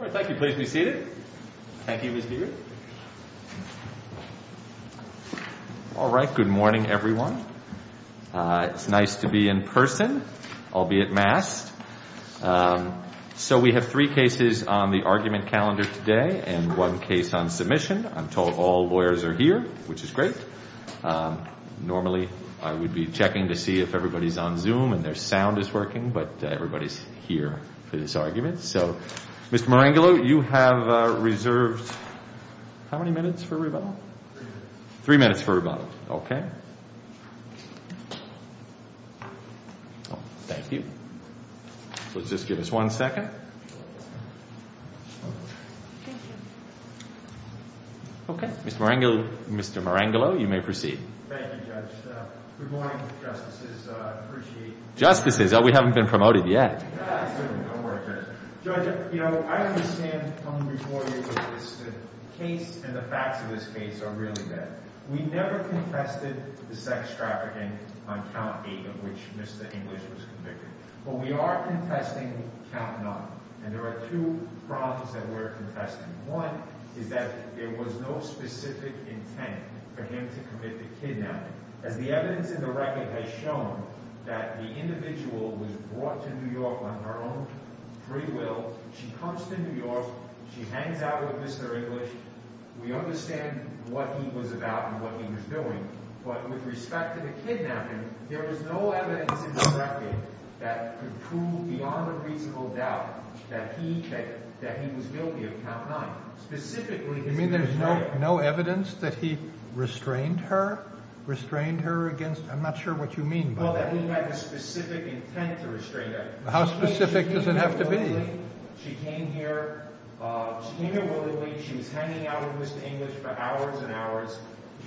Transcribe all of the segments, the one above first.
All right, good morning, everyone. It's nice to be in person, albeit masked. So we have three cases on the argument calendar today and one case on submission. I'm told all lawyers are here, which is great. Normally, I would be checking to see if everybody's on Zoom and their sound is working, but everybody's here for this argument. So, Mr. Marengolo, you have reserved how many minutes for rebuttal? Three minutes. Three minutes for rebuttal. Okay. Thank you. Let's just give us one second. Okay. Mr. Marengolo, you may proceed. Thank you. Justices, we haven't been promoted yet. No, sir. Don't worry, Judge. Judge, you know, I understand from reporting of this case and the facts of this case are really bad. We never contested the sex trafficking on count eight of which Mr. English was convicted, but we are contesting count nine. And there are two problems that we're contesting. One is that there was no specific intent for him to commit the kidnapping. As the evidence in the record has shown, that the individual was brought to New York on her own free will. She comes to New York. She hangs out with Mr. English. We understand what he was about and what he was doing, but with respect to the kidnapping, there was no evidence in the record that could prove beyond a reasonable doubt that he was guilty of count nine. Specifically, no evidence that he restrained her, restrained her against, I'm not sure what you mean by that. He had a specific intent to restrain her. How specific does it have to be? She came here. She was hanging out with Mr. English for hours and hours.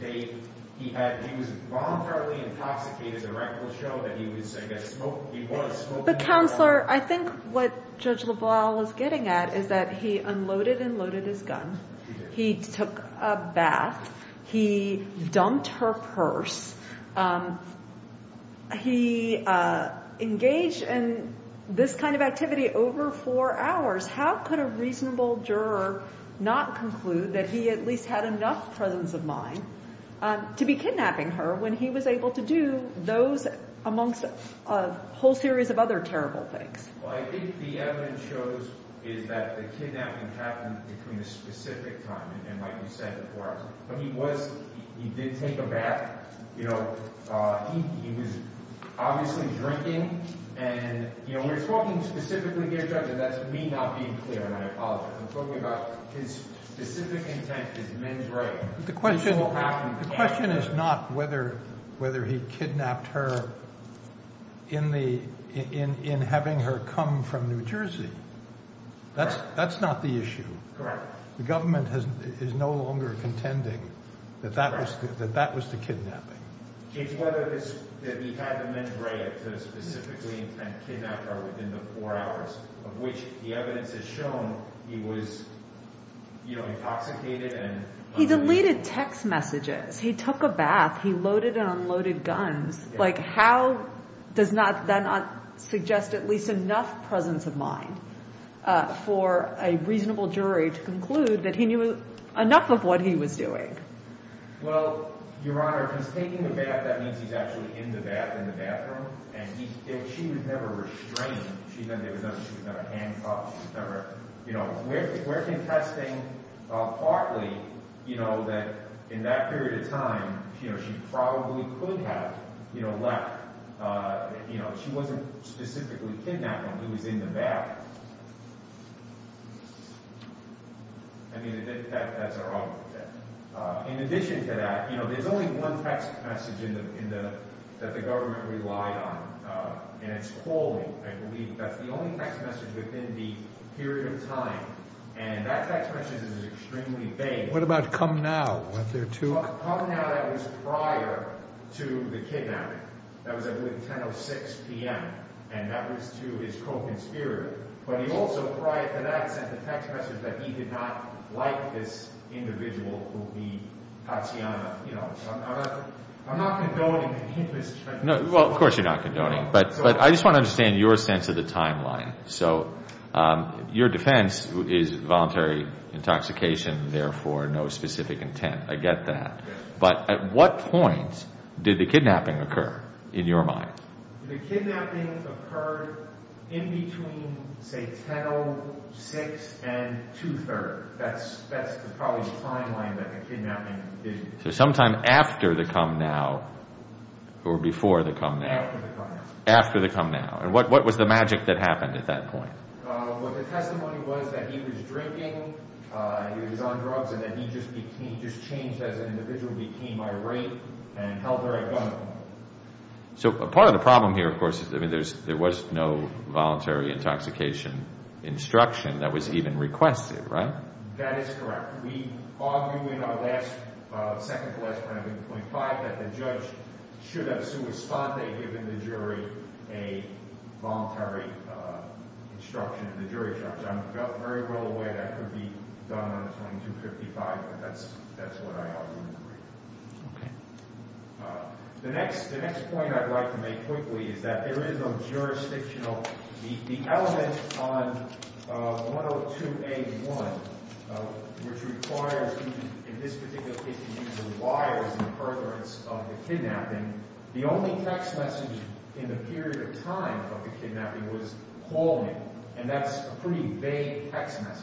He had, he was voluntarily intoxicated. The record will show that he was, I guess, the counselor. I think what Judge LaValle is getting at is that he unloaded and loaded his car. He took a bath. He dumped her purse. He engaged in this kind of activity over four hours. How could a reasonable juror not conclude that he at least had enough presence of mind to be kidnapping her when he was able to do those amongst a whole series of other terrible things? Well, I think the evidence shows is that the kidnapping happened between a specific time and like you said, the four hours. But he was, he did take a bath. You know, he was obviously drinking and, you know, we're talking specifically here, Judge, and that's me not being clear and I apologize. I'm talking about his specific intent is men's right. The question is not whether he kidnapped her in having her come from New Jersey. That's not the issue. The government is no longer contending that that was the kidnapping. Judge, whether it's that he had the men's right to specifically intend to kidnap her within the four hours of which the evidence has shown he was, you know, intoxicated. He deleted text messages. He took a bath. He loaded and unloaded guns. Like, how does that not suggest at least enough presence of mind for a reasonable jury to conclude that he knew enough of what he was doing? Well, Your Honor, if he's taking a bath, that means he's actually in the bath, in the bathroom, and she would never restrain. She's never done it. She's never handcuffed. She's never, we're contesting partly, you know, that in that period of time, you know, she probably could have, you know, left. You know, she wasn't specifically kidnapped when he was in the bath. I mean, that's our argument there. In addition to that, you know, there's only one text message that the government relied on, and it's calling. I believe that's the only text message within the period of time, and that text message is extremely vague. What about, come now? Come now, that was prior to the kidnapping. That was, I believe, 10.06 p.m., and that was to his co-conspirator. But he also, prior to that, sent the text message that he did not like this individual who'd be Tatiana, you know. I'm not condoning any of this. Well, of course, you're not condoning, but I just want to understand your sense of the timeline. So your defense is voluntary intoxication, therefore no specific intent. I get that. But at what point did the kidnapping occur, in your mind? The kidnapping occurred in between, say, 10.06 and 2.30. That's probably the timeline that the kidnapping did occur. So sometime after the come now, or before the come now? After the come now. And what was the magic that happened at that point? Well, the testimony was that he was drinking, he was on drugs, and that he just changed as an individual, became irate, and held her at gunpoint. So part of the problem here, of course, is there was no voluntary intoxication instruction that was even requested, right? That is correct. We argue in our second to last point, point five, that the judge should have sua sponte given the jury a voluntary instruction in the jury charge. I'm very well aware that could be done under 2255, but that's what I argue in the reading. Okay. The next point I'd like to make quickly is that there is a jurisdictional, the element on 102A1, which requires you, in this particular case, to use the why as an inference of the kidnapping. The only text message in the period of time of the kidnapping was, call me. And that's a pretty vague text message.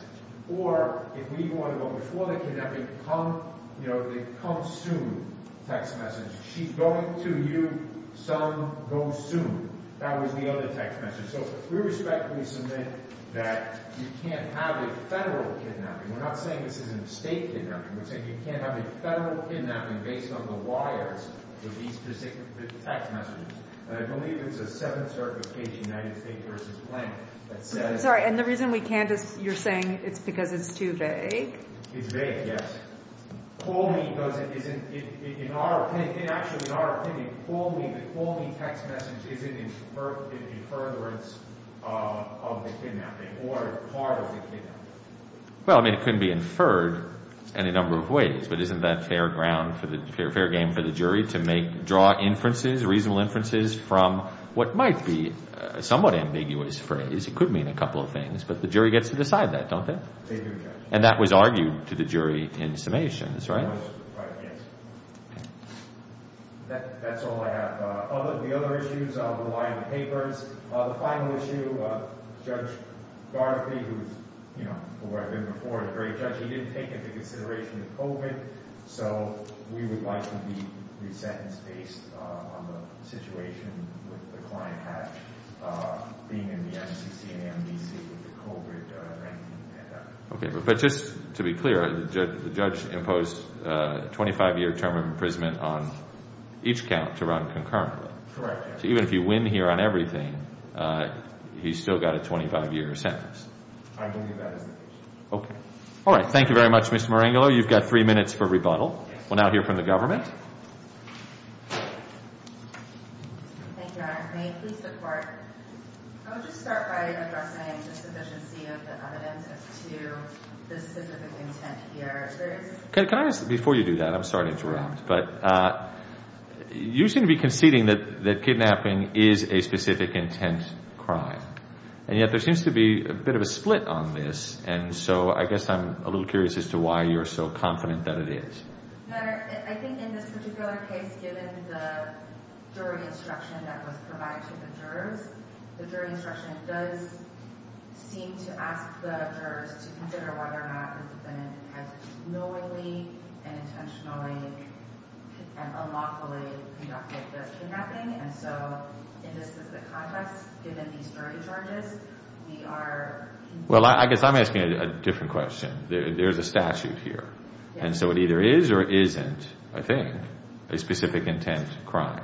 Or if we want to go before the kidnapping, come, you know, the come soon text message. She's going to you, some go soon. That was the other text message. So we respectfully submit that you can't have a federal kidnapping. We're not saying this is a state kidnapping. We're saying you can't have a federal kidnapping based on the whyers of these specific text messages. And I believe it's a seven-certification United States v. Plank that says... I'm sorry. And the reason we can't is you're saying it's because it's too vague? It's vague, yes. Call me doesn't, isn't, in our opinion, actually in our opinion, the call me text message isn't an inference of the kidnapping or part of the kidnapping. Well, I mean, it couldn't be inferred any number of ways, but isn't that fair ground for the, fair game for the jury to make, draw inferences, reasonable inferences from what might be a somewhat ambiguous phrase. It could mean a couple of things, but the jury gets to decide that, don't they? And that was argued to the jury in summations, right? Yes. That's all I have. The other issues rely on the papers. The final issue, Judge Garthie, who's, you know, who I've been before, a great judge, he didn't take into consideration the COVID. So we would like him to be re-sentenced based on the situation with the client being in the FCC and NBC with the COVID ranking. Okay, but just to be clear, the judge imposed a 25-year term of imprisonment on each count to run concurrently. Correct. So even if you win here on everything, he's still got a 25-year sentence. I don't think that is the case. Okay. All right. Thank you very much, Mr. Marengolo. You've got three minutes for rebuttal. We'll now hear from the government. Thank you, Your Honor. May it please the Court? I would just start by addressing the sufficiency of the evidence as to the specific intent here. Can I ask, before you do that, I'm sorry to interrupt, but you seem to be conceding that kidnapping is a specific intent crime, and yet there seems to be a bit of a split on this. And so I guess I'm a little curious as to why you're so confident that it is. Your Honor, I think in this particular case, given the jury instruction that was provided to the jurors, the jury instruction does seem to ask the jurors to consider whether or not the defendant has knowingly and intentionally and unlawfully conducted the kidnapping. And so in this specific context, given these jury charges, we are... Well, I guess I'm asking a different question. There's a statute here. And so it either is or isn't, I think, a specific intent crime.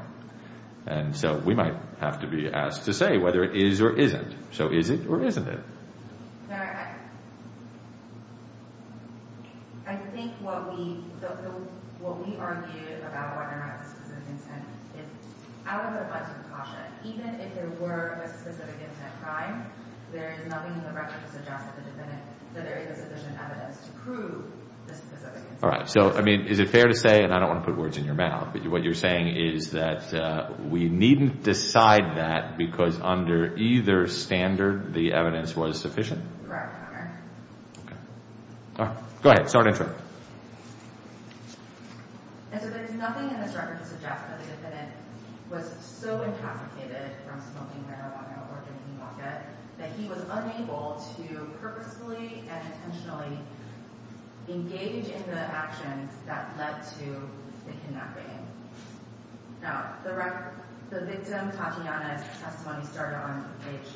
And so we might have to be asked to say whether it is or isn't. So is it or isn't it? I think what we argue about whether or not it's a specific intent is out of a bunch of caution. Even if there were a specific intent crime, there is nothing in the record to suggest that the defendant, that there is sufficient evidence to prove the specific intent. All right. So, I mean, is it fair to say, and I don't want to put words in your mouth, but what you're saying is that we needn't decide that because under either standard, the evidence was sufficient? Correct, Your Honor. Okay. All right. Go ahead. Start interrupting. And so there's nothing in this record to suggest that the defendant was so incapacitated from smoking marijuana or drinking vodka that he was unable to purposefully and intentionally engage in the actions that led to the kidnapping. No. The victim Tatiana's testimony started on page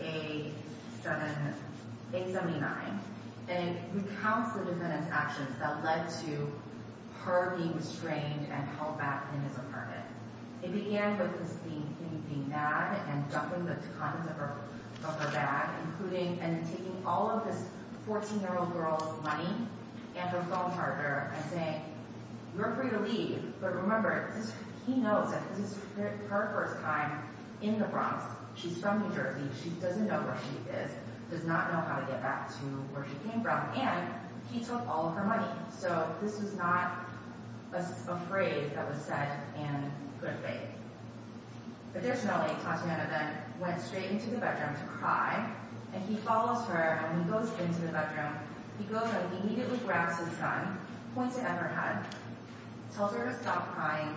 879, and it recounts the defendant's actions that led to her being restrained and held back in his apartment. It began with Christine being mad and dumping the contents of her bag, including and then taking all of this 14-year-old girl's money and her phone charger and saying, you're free to leave, but remember, he knows that this is her first time in the Bronx. She's from New Jersey. She doesn't know where she is, does not know how to get back to where she came from, and he took all of her money. So this is not a phrase that was said in good faith. Additionally, Tatiana then went straight into the bedroom to cry, and he follows her, and when he goes into the bedroom, he goes and immediately grabs his gun, points it at her head, tells her to stop crying,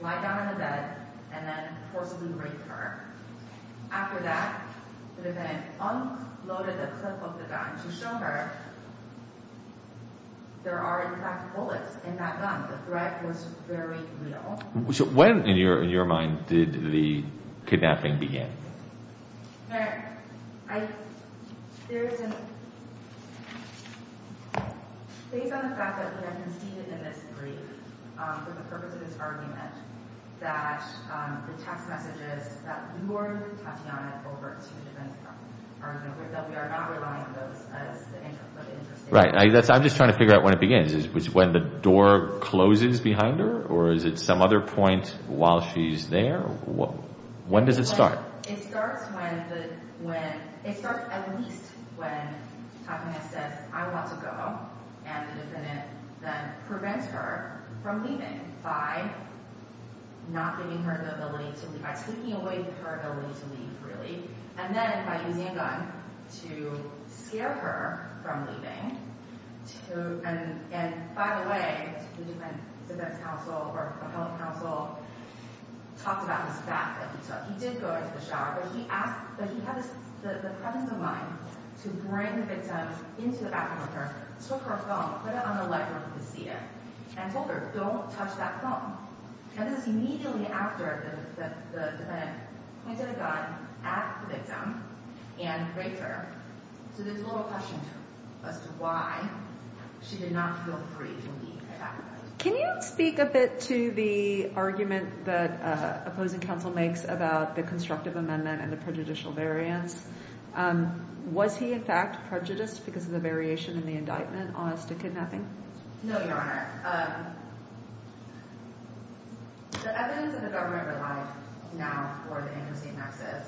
lie down on the bed, and then forcibly rape her. After that, the defendant unloaded the clip of the gun to show her there are, in fact, bullets in that gun. The threat was very real. So when, in your mind, did the kidnapping begin? No, I, there isn't, based on the fact that we have conceded in this brief, for the purpose of this argument, that the text messages that lured Tatiana over to the defense department are, you know, that we are not relying on those as the income of the interstate. Right, that's, I'm just trying to figure out when it begins. Is it when the door closes behind her, or is it some other point while she's there? When does it start? It starts when the, when, it starts at least when Tatiana says, I want to go, and the defendant then prevents her from leaving by not giving her the ability to, by taking away her ability to leave, really, and then by using a gun to scare her from leaving, to, and by the way, the defense counsel or the public counsel talked about this fact that he took. He did go into the shower, but he asked, but he had the presence of mind to bring the victim into the bathroom with her, took her phone, put it on the legroom of the theater, and told her, don't touch that phone. And this is immediately after the defendant pointed a gun at the victim and raped her. So there's a little question as to why she did not feel free from being kidnapped. Can you speak a bit to the argument that opposing counsel makes about the Constructive Amendment and the prejudicial variance? Was he, in fact, prejudiced because of the variation in the indictment on us to kidnapping? No, Your Honor. The evidence in the government relied now for the interstate nexus,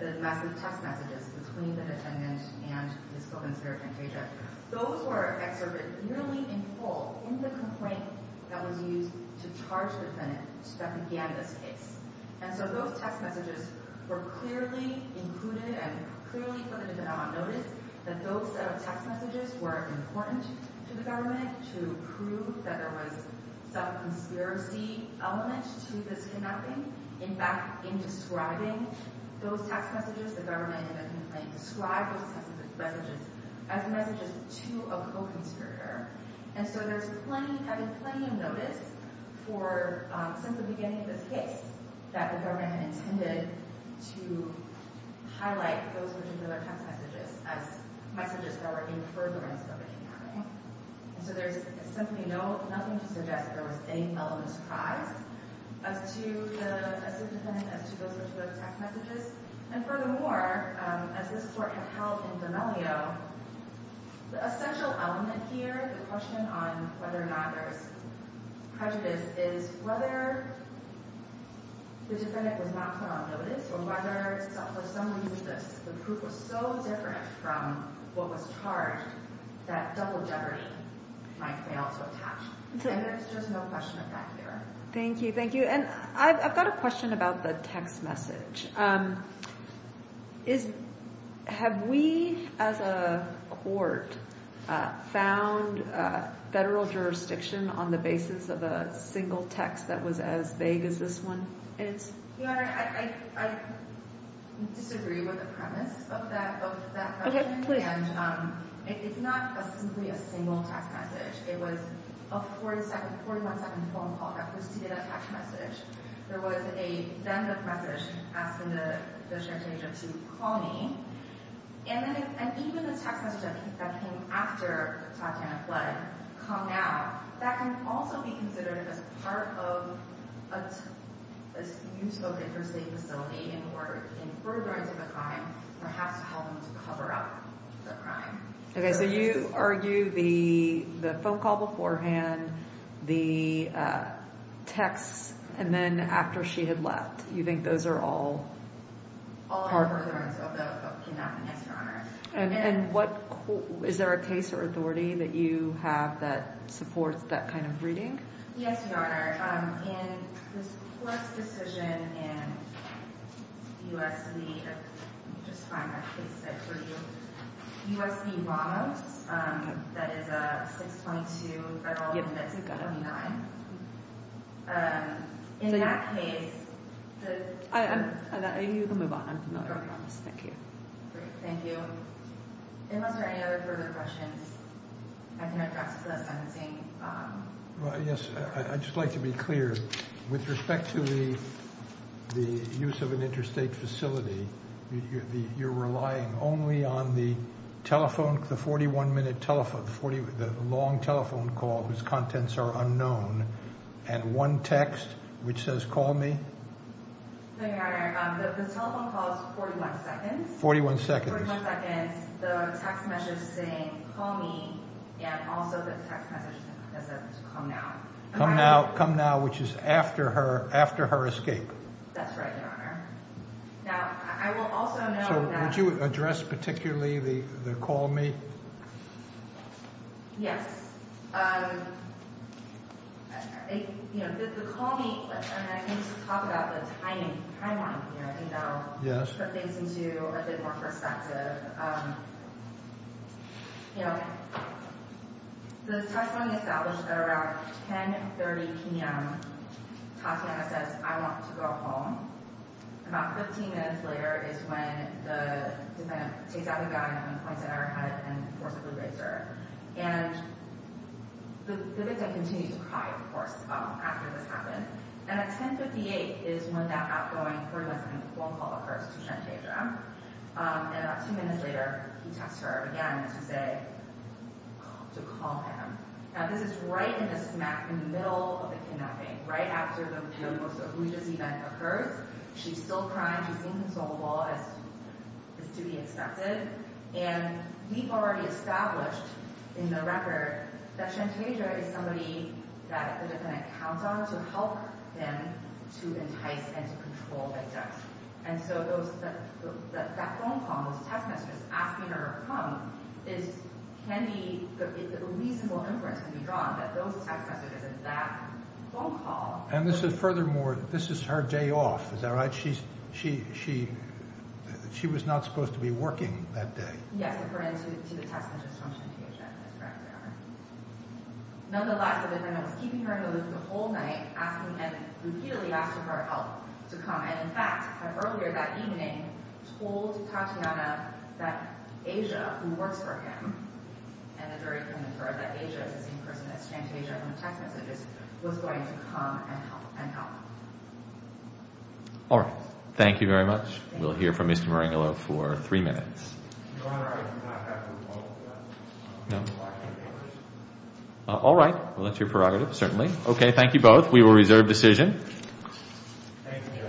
the massive text messages between the defendant and his co-conspirator, Kaja. Those were excerpted nearly in full in the complaint that was used to charge the defendant that began this case. And so those text messages were clearly included and clearly put into non-notice, that those text messages were important to the government to prove that there was a self-conspiracy element to this kidnapping. In fact, in describing those text messages, the government in the complaint described those text messages as messages to a co-conspirator. And so there's plenty, I mean, plenty of notice for, since the beginning of this case, that the government intended to highlight those particular text messages as messages that were in furtherance of the kidnapping. And so there's simply nothing to suggest that there was any element of surprise as to the defendant, as to those particular text messages. And furthermore, as this Court had held in D'Amelio, the essential element here, the question on whether or not there was prejudice is whether the defendant was not put on notice or whether, for some reason, the proof was so different from what was might fail to attach. And there's just no question of that here. Thank you. Thank you. And I've got a question about the text message. Have we, as a Court, found federal jurisdiction on the basis of a single text that was as vague as this one is? Your Honor, I disagree with the premise of that question. OK, please. And it's not simply a single text message. It was a 41-second phone call that preceded that text message. There was a send-off message asking the judge's agent to call me. And even the text message that came after Tatiana fled, come now, that can also be considered as part of a useful interstate facility in order, in furtherance of the crime, perhaps help them to cover up the crime. OK, so you argue the phone call beforehand, the text, and then after she had left. You think those are all part of the interstate facility? All of the furtherance of the kidnapping, yes, Your Honor. And is there a case or authority that you have that supports that kind of reading? Yes, Your Honor. In this court's decision in U.S. v. Obama, that is a 622 Federal Amendment 29. In that case, the— I'm—you can move on. I'm familiar with this. Thank you. Great, thank you. Unless there are any other further questions, I can address the sentencing. Well, yes, I'd just like to be clear. With respect to the use of an interstate facility, you're relying only on the telephone, the 41-minute telephone, the long telephone call whose contents are unknown, and one text which says, call me? No, Your Honor. The telephone call is 41 seconds. 41 seconds. 41 seconds. The text message saying, call me, and also the text message that says, come now. Come now. Come now, which is after her escape. That's right, Your Honor. Now, I will also note that— So, would you address particularly the call me? Yes. You know, the call me—and I can just talk about the timing here. I think that'll put things into a bit more perspective. But, you know, the testimony established at around 10.30 p.m., Tatiana says, I want to go home. About 15 minutes later is when the defendant takes out the gun and points it at her head and forcibly raises her. And the victim continues to cry, of course, after this happens. And at 10.58 is when that outgoing phone call occurs to Shantandra. And about two minutes later, he texts her again to say—to call him. Now, this is right in the smack, in the middle of the kidnapping, right after the most egregious event occurs. She's still crying. She's inconsolable, as is to be expected. And we've already established in the record that Shantandra is somebody that the defendant counts on to help them to entice and to control the death. And so those—that phone call, those text messages asking her to come is—can be—a reasonable inference to be drawn that those text messages and that phone call— And this is—furthermore, this is her day off. Is that right? She's—she—she was not supposed to be working that day. Yes, according to the text messages from Shantandra. Nonetheless, the defendant was keeping her in the loop the whole night, asking—and repeatedly asking her out to come. And in fact, earlier that evening, told Tatiana that Asia, who works for him, and the jury confirmed that Asia, the same person as Shantandra in the text messages, was going to come and help—and help. All right. Thank you very much. We'll hear from Mr. Marengolo for three minutes. Your Honor, I did not have to call for that. No? All right. Well, that's your prerogative, certainly. Okay. Thank you both. We will reserve decision. Thank you.